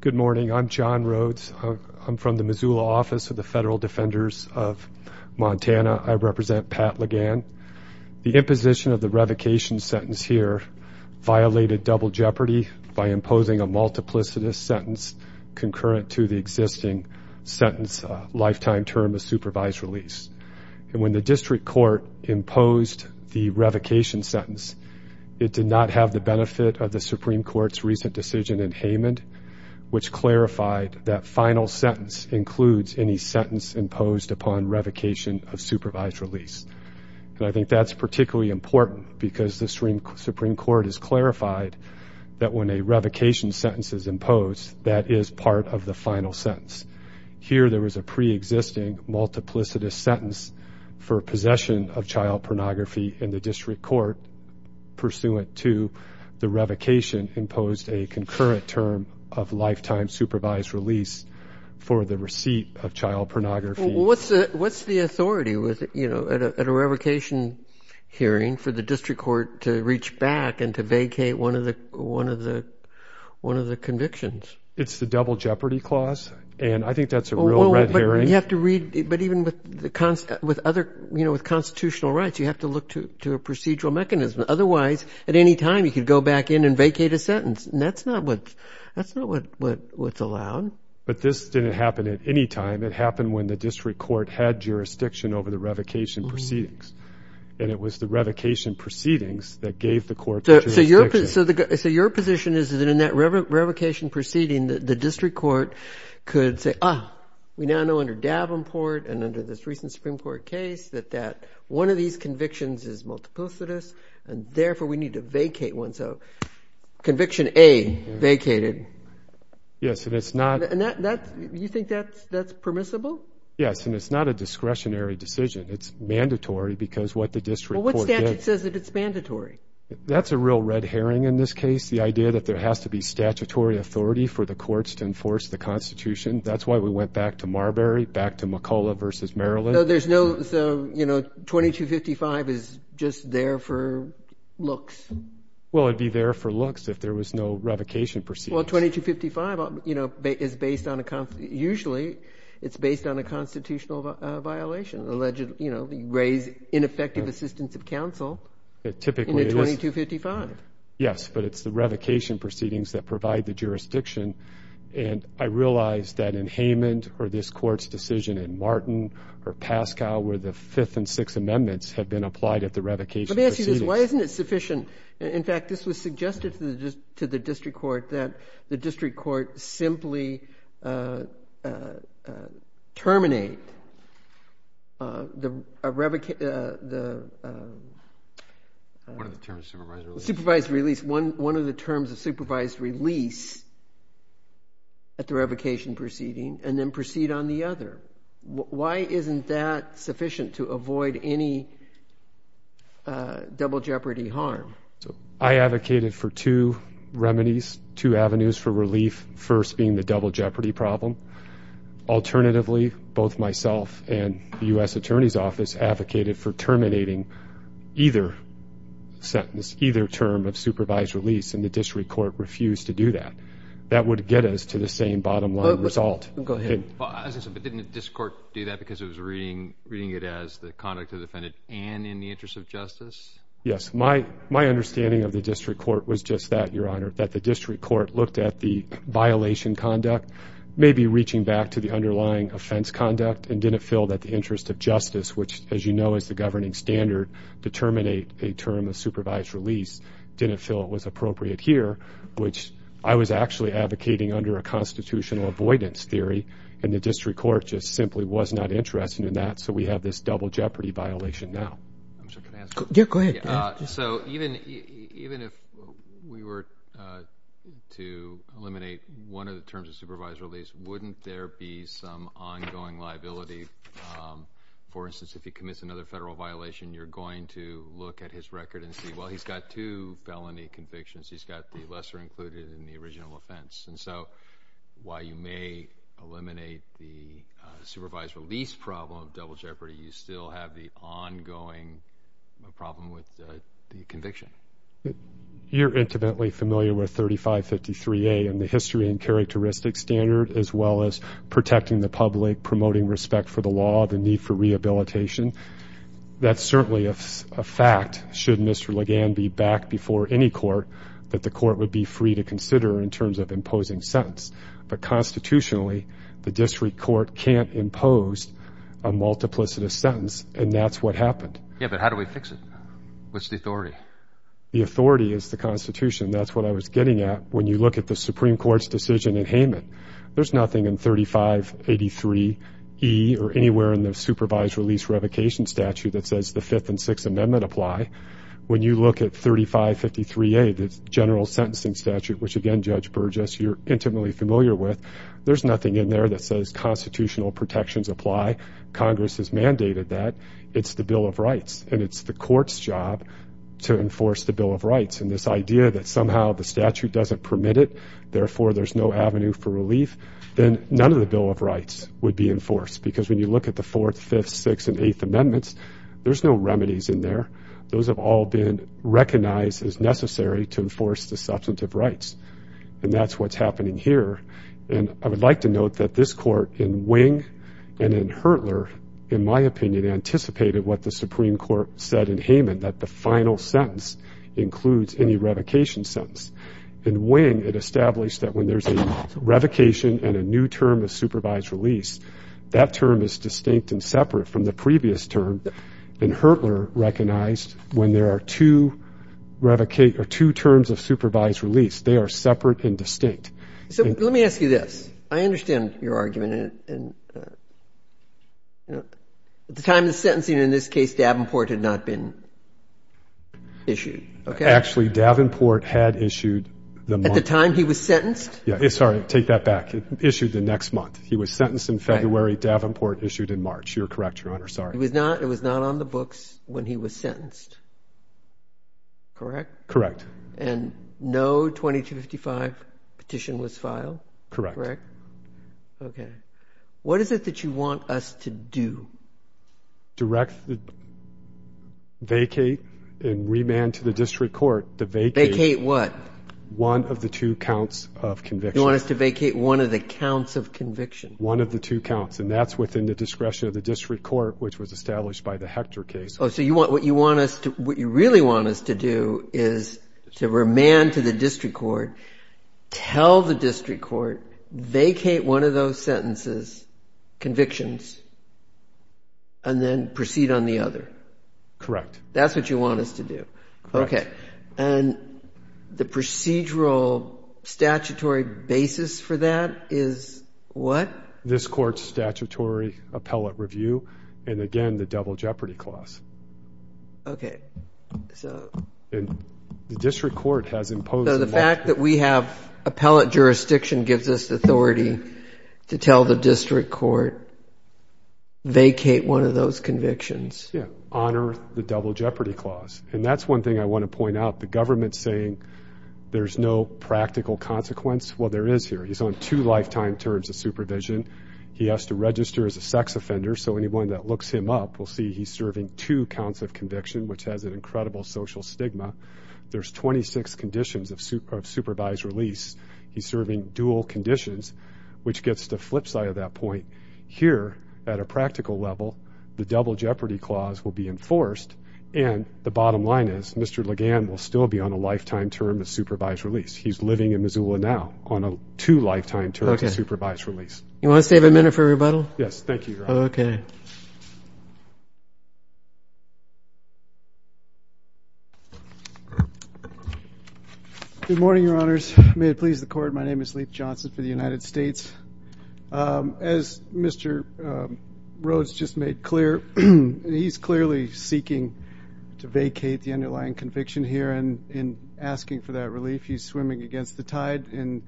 Good morning. I'm John Rhodes. I'm from the Missoula office of the Federal Defenders of Montana. I represent Pat Legan. The imposition of the revocation sentence here violated double jeopardy by imposing a multiplicitous sentence concurrent to the existing sentence lifetime term of supervised release. And when the district court imposed the revocation sentence, it did not have the benefit of the Supreme Court's recent decision in Haymond, which clarified that final sentence includes any sentence imposed upon revocation of supervised release. And I think that's particularly important because the Supreme Court has clarified that when a revocation sentence is imposed, that is part of the final sentence. Here there was a preexisting multiplicitous sentence for possession of child pornography in the district court pursuant to the revocation imposed a concurrent term of lifetime supervised release for the receipt of child pornography. What's the authority at a revocation hearing for the district court to reach back and to vacate one of the convictions? It's the double jeopardy clause, and I think that's a real red herring. But even with constitutional rights, you have to look to a procedural mechanism. Otherwise, at any time, you could go back in and vacate a sentence, and that's not what's allowed. But this didn't happen at any time. It happened when the district court had jurisdiction over the revocation proceedings, and it was the revocation proceedings that gave the court the jurisdiction. So your position is that in that revocation proceeding, the district court could say, ah, we now know under Davenport and under this recent Supreme Court case that one of these convictions is multiplicitous, and therefore we need to vacate one. So conviction A, vacated. Yes, and it's not. You think that's permissible? Yes, and it's not a discretionary decision. It's mandatory because what the district court did. Well, what statute says that it's mandatory? That's a real red herring in this case, the idea that there has to be statutory authority for the courts to enforce the Constitution. That's why we went back to Marbury, back to McCullough v. Maryland. So there's no, you know, 2255 is just there for looks. Well, it would be there for looks if there was no revocation proceeding. Well, 2255, you know, is based on a, usually it's based on a constitutional violation. Allegedly, you know, you raise ineffective assistance of counsel in a 2255. Yes, but it's the revocation proceedings that provide the jurisdiction, and I realize that in Haymond or this court's decision in Martin or Pascal where the Fifth and Sixth Amendments have been applied at the revocation proceedings. Let me ask you this. Why isn't it sufficient? In fact, this was suggested to the district court that the district court simply terminate the revocation. What are the terms, supervised release? Supervised release. One of the terms of supervised release at the revocation proceeding and then proceed on the other. Why isn't that sufficient to avoid any double jeopardy harm? I advocated for two remedies, two avenues for relief, first being the double jeopardy problem. Alternatively, both myself and the U.S. Attorney's Office advocated for terminating either sentence, either term of supervised release, and the district court refused to do that. That would get us to the same bottom line result. Go ahead. Didn't this court do that because it was reading it as the conduct of the defendant and in the interest of justice? Yes. My understanding of the district court was just that, Your Honor, that the district court looked at the violation conduct, maybe reaching back to the underlying offense conduct and didn't feel that the interest of justice, which, as you know, is the governing standard to terminate a term of supervised release, didn't feel it was appropriate here, which I was actually advocating under a constitutional avoidance theory, and the district court just simply was not interested in that, so we have this double jeopardy violation now. I'm sorry, can I ask a question? Yeah, go ahead. So even if we were to eliminate one of the terms of supervised release, wouldn't there be some ongoing liability? For instance, if he commits another federal violation, you're going to look at his record and see, well, he's got two felony convictions. He's got the lesser included in the original offense, and so while you may eliminate the supervised release problem of double jeopardy, you still have the ongoing problem with the conviction. You're intimately familiar with 3553A and the history and characteristics standard, as well as protecting the public, promoting respect for the law, the need for rehabilitation. That's certainly a fact, should Mr. Legan be back before any court, that the court would be free to consider in terms of imposing sentence. But constitutionally, the district court can't impose a multiplicitous sentence, and that's what happened. Yeah, but how do we fix it? What's the authority? The authority is the Constitution. That's what I was getting at. When you look at the Supreme Court's decision in Hayman, there's nothing in 3583E or anywhere in the supervised release revocation statute that says the Fifth and Sixth Amendment apply. When you look at 3553A, the general sentencing statute, which again, Judge Burgess, you're intimately familiar with, there's nothing in there that says constitutional protections apply. Congress has mandated that. It's the Bill of Rights, and it's the court's job to enforce the Bill of Rights, and this idea that somehow the statute doesn't permit it, then none of the Bill of Rights would be enforced because when you look at the Fourth, Fifth, Sixth, and Eighth Amendments, there's no remedies in there. Those have all been recognized as necessary to enforce the substantive rights, and that's what's happening here. And I would like to note that this court in Wing and in Hertler, in my opinion, anticipated what the Supreme Court said in Hayman, that the final sentence includes any revocation sentence. In Wing, it established that when there's a revocation and a new term of supervised release, that term is distinct and separate from the previous term, and Hertler recognized when there are two terms of supervised release, they are separate and distinct. So let me ask you this. I understand your argument. At the time of the sentencing in this case, Davenport had not been issued. Actually, Davenport had issued the month. At the time he was sentenced? Yeah. Sorry, take that back. Issued the next month. He was sentenced in February. Davenport issued in March. You're correct, Your Honor. Sorry. It was not on the books when he was sentenced, correct? Correct. And no 2255 petition was filed? Correct. Correct. Okay. What is it that you want us to do? Direct the vacate and remand to the district court the vacate. Vacate what? One of the two counts of conviction. You want us to vacate one of the counts of conviction? One of the two counts, and that's within the discretion of the district court, which was established by the Hector case. Oh, so what you really want us to do is to remand to the district court, tell the district court, vacate one of those sentences, convictions, and then proceed on the other? Correct. That's what you want us to do? Correct. Okay. And the procedural statutory basis for that is what? This court's statutory appellate review and, again, the double jeopardy clause. Okay. So. And the district court has imposed. So the fact that we have appellate jurisdiction gives us authority to tell the district court, vacate one of those convictions. Yeah. Honor the double jeopardy clause. And that's one thing I want to point out. The government's saying there's no practical consequence. Well, there is here. He's on two lifetime terms of supervision. He has to register as a sex offender, so anyone that looks him up will see he's serving two counts of conviction, which has an incredible social stigma. There's 26 conditions of supervised release. He's serving dual conditions, which gets to the flip side of that point. Here, at a practical level, the double jeopardy clause will be enforced, and the bottom line is Mr. Legan will still be on a lifetime term of supervised release. He's living in Missoula now on a two lifetime terms of supervised release. Okay. You want to stay a minute for rebuttal? Yes. Thank you, Your Honor. Okay. Good morning, Your Honors. May it please the Court, my name is Leif Johnson for the United States. As Mr. Rhodes just made clear, he's clearly seeking to vacate the underlying conviction here, and in asking for that relief, he's swimming against the tide in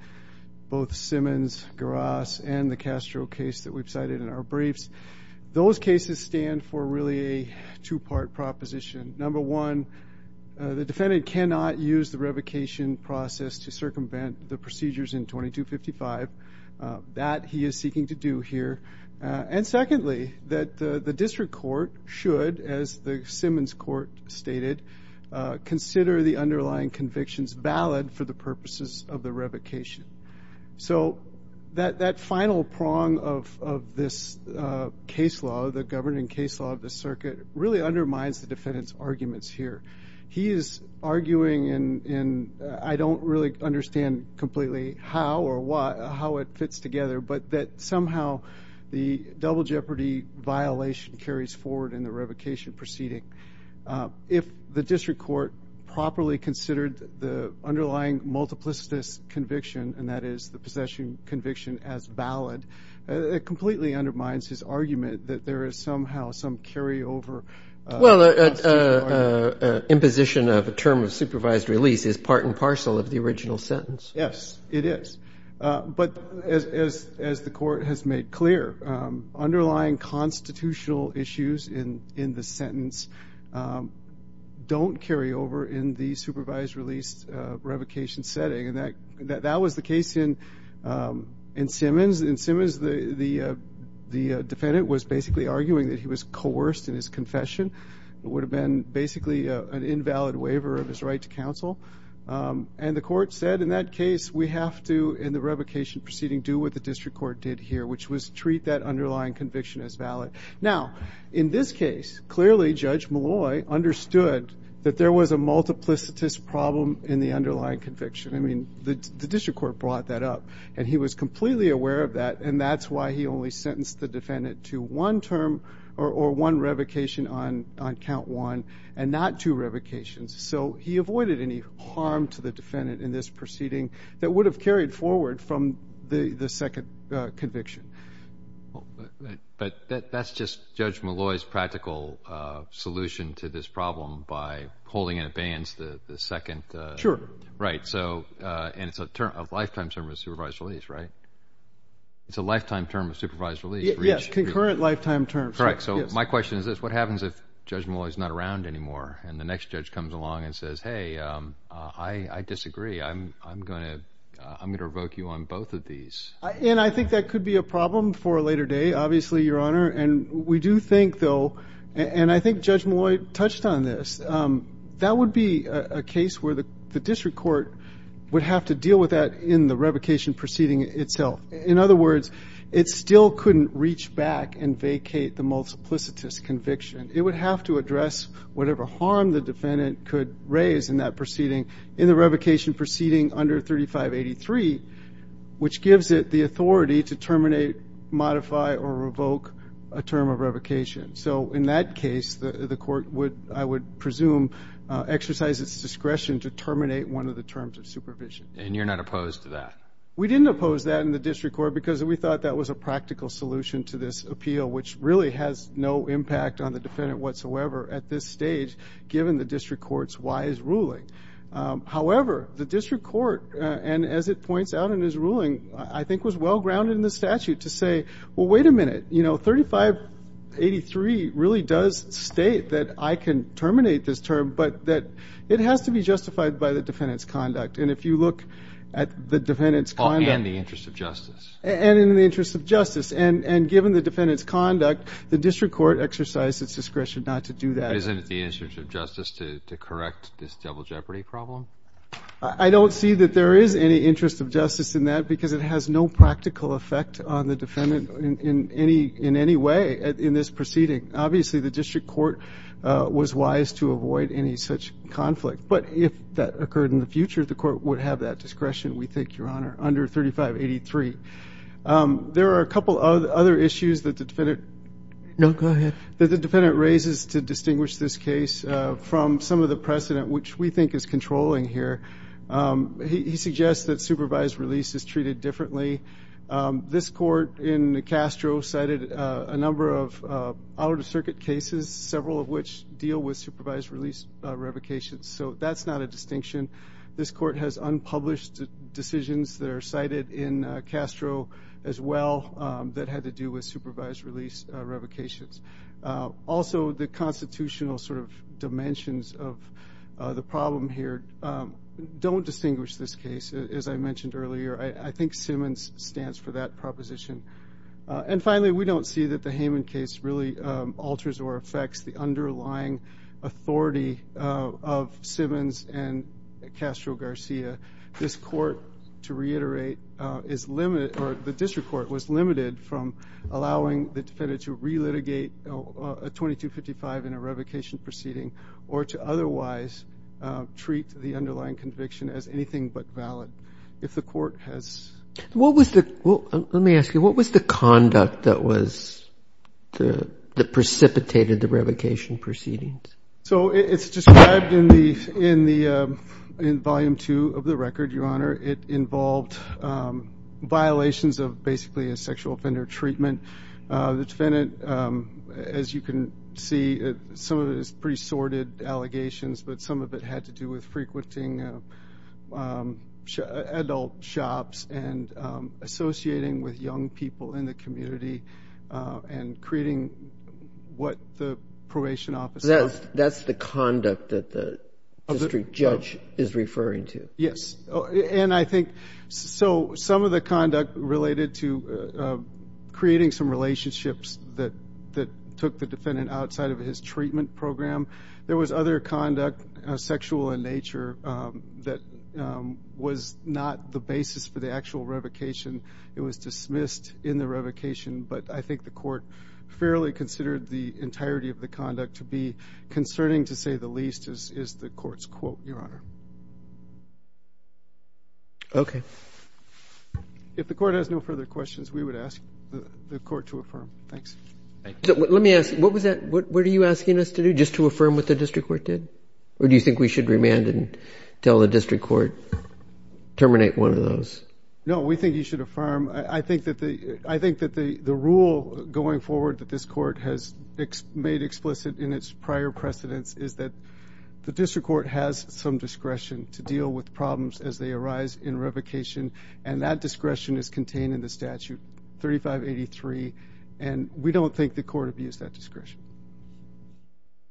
both Simmons, Garas, and the Castro case that we've cited in our briefs. Those cases stand for really a two-part proposition. Number one, the defendant cannot use the revocation process to circumvent the procedures in 2255. That he is seeking to do here. And secondly, that the district court should, as the Simmons court stated, consider the underlying convictions valid for the purposes of the revocation. So that final prong of this case law, the governing case law of the circuit, really undermines the defendant's arguments here. He is arguing, and I don't really understand completely how or why, how it fits together, but that somehow the double jeopardy violation carries forward in the revocation proceeding. If the district court properly considered the underlying multiplicitous conviction, and that is the possession conviction as valid, it completely undermines his argument that there is somehow some carryover. Well, imposition of a term of supervised release is part and parcel of the original sentence. Yes, it is. But as the court has made clear, underlying constitutional issues in the sentence don't carry over in the supervised release revocation setting. That was the case in Simmons. In Simmons, the defendant was basically arguing that he was coerced in his confession. It would have been basically an invalid waiver of his right to counsel. And the court said in that case, we have to, in the revocation proceeding, do what the district court did here, which was treat that underlying conviction as valid. Now, in this case, clearly Judge Malloy understood that there was a multiplicitous problem in the underlying conviction. I mean, the district court brought that up, and he was completely aware of that, and that's why he only sentenced the defendant to one term or one revocation on count one and not two revocations. So he avoided any harm to the defendant in this proceeding that would have carried forward from the second conviction. But that's just Judge Malloy's practical solution to this problem by holding in abeyance the second. Sure. Right. And it's a lifetime term of supervised release, right? It's a lifetime term of supervised release. Yes, concurrent lifetime term. Correct. So my question is this. What happens if Judge Malloy is not around anymore, and the next judge comes along and says, hey, I disagree. I'm going to revoke you on both of these. And I think that could be a problem for a later day, obviously, Your Honor. And we do think, though, and I think Judge Malloy touched on this, that would be a case where the district court would have to deal with that in the revocation proceeding itself. In other words, it still couldn't reach back and vacate the multiplicitous conviction. It would have to address whatever harm the defendant could raise in the revocation proceeding under 3583, which gives it the authority to terminate, modify, or revoke a term of revocation. So in that case, the court would, I would presume, exercise its discretion to terminate one of the terms of supervision. And you're not opposed to that? We didn't oppose that in the district court because we thought that was a practical solution to this appeal, which really has no impact on the defendant whatsoever at this stage, given the district court's wise ruling. However, the district court, and as it points out in his ruling, I think was well-grounded in the statute to say, well, wait a minute, you know, 3583 really does state that I can terminate this term, but that it has to be justified by the defendant's conduct. And if you look at the defendant's conduct. And the interest of justice. And in the interest of justice. And given the defendant's conduct, the district court exercised its discretion not to do that. But isn't it the interest of justice to correct this devil jeopardy problem? I don't see that there is any interest of justice in that because it has no practical effect on the defendant in any way in this proceeding. Obviously, the district court was wise to avoid any such conflict. But if that occurred in the future, the court would have that discretion, we think, Your Honor, under 3583. There are a couple of other issues that the defendant. No, go ahead. That the defendant raises to distinguish this case from some of the precedent, which we think is controlling here. He suggests that supervised release is treated differently. This court in Castro cited a number of out-of-circuit cases, several of which deal with supervised release revocations. So that's not a distinction. This court has unpublished decisions that are cited in Castro as well that had to do with supervised release revocations. Also, the constitutional sort of dimensions of the problem here don't distinguish this case, as I mentioned earlier. I think Simmons stands for that proposition. And finally, we don't see that the Hayman case really alters or affects the underlying authority of Simmons and Castro Garcia. This court, to reiterate, is limited or the district court was limited from allowing the defendant to relitigate 2255 in a revocation proceeding or to otherwise treat the underlying conviction as anything but valid. If the court has... Let me ask you, what was the conduct that precipitated the revocation proceedings? So it's described in Volume 2 of the record, Your Honor. It involved violations of basically a sexual offender treatment. The defendant, as you can see, some of it is pretty sorted allegations, but some of it had to do with frequenting adult shops and creating what the probation office... That's the conduct that the district judge is referring to. Yes, and I think some of the conduct related to creating some relationships that took the defendant outside of his treatment program. There was other conduct, sexual in nature, that was not the basis for the actual revocation. It was dismissed in the revocation, but I think the court fairly considered the entirety of the conduct to be concerning to say the least is the court's quote, Your Honor. Okay. If the court has no further questions, we would ask the court to affirm. Thanks. Let me ask, what were you asking us to do, just to affirm what the district court did? Or do you think we should remand and tell the district court, terminate one of those? No, we think you should affirm. I think that the rule going forward that this court has made explicit in its prior precedents is that the district court has some discretion to deal with problems as they arise in revocation, and that discretion is contained in the statute 3583, and we don't think the court abused that discretion.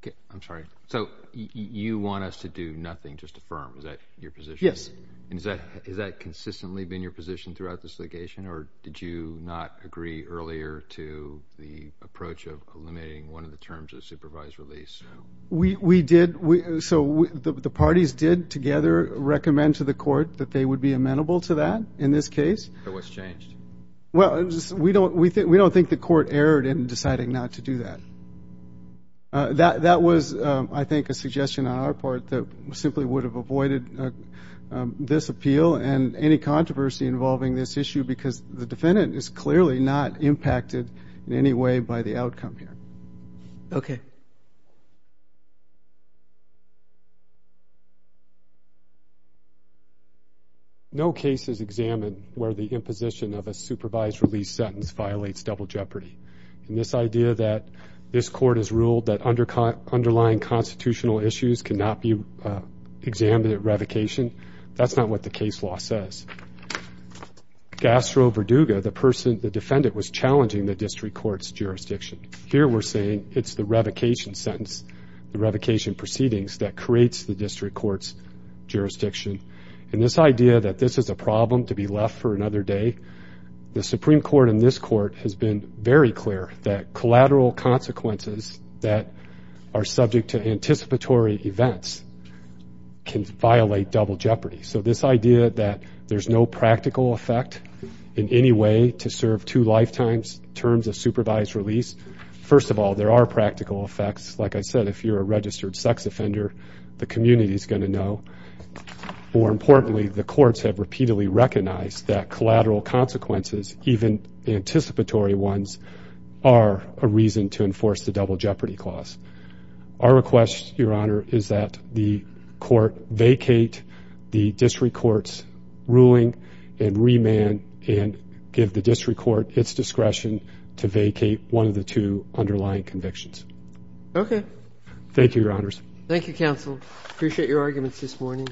Okay. I'm sorry. So you want us to do nothing, just affirm? Is that your position? Yes. And has that consistently been your position throughout this litigation, or did you not agree earlier to the approach of eliminating one of the terms of supervised release? No. We did. So the parties did together recommend to the court that they would be amenable to that in this case. So what's changed? Well, we don't think the court erred in deciding not to do that. That was, I think, a suggestion on our part that simply would have avoided this appeal and any controversy involving this issue, because the defendant is clearly not impacted in any way by the outcome here. Okay. No case is examined where the imposition of a supervised release sentence violates double jeopardy. And this idea that this court has ruled that underlying constitutional issues cannot be examined at revocation, that's not what the case law says. Gastro Verduga, the defendant, was challenging the district court's jurisdiction. Here we're saying it's the revocation sentence, the revocation proceedings, that creates the district court's jurisdiction. And this idea that this is a problem to be left for another day, the Supreme Court in this court has been very clear that collateral consequences that are subject to anticipatory events can violate double jeopardy. So this idea that there's no practical effect in any way to serve two lifetimes terms of supervised release, first of all, there are practical effects. Like I said, if you're a registered sex offender, the community is going to know. More importantly, the courts have repeatedly recognized that collateral consequences, even anticipatory ones, are a reason to enforce the double jeopardy clause. Our request, Your Honor, is that the court vacate the district court's ruling and remand and give the district court its discretion to vacate one of the two underlying convictions. Okay. Thank you, Your Honors. Thank you, counsel. I appreciate your arguments this morning.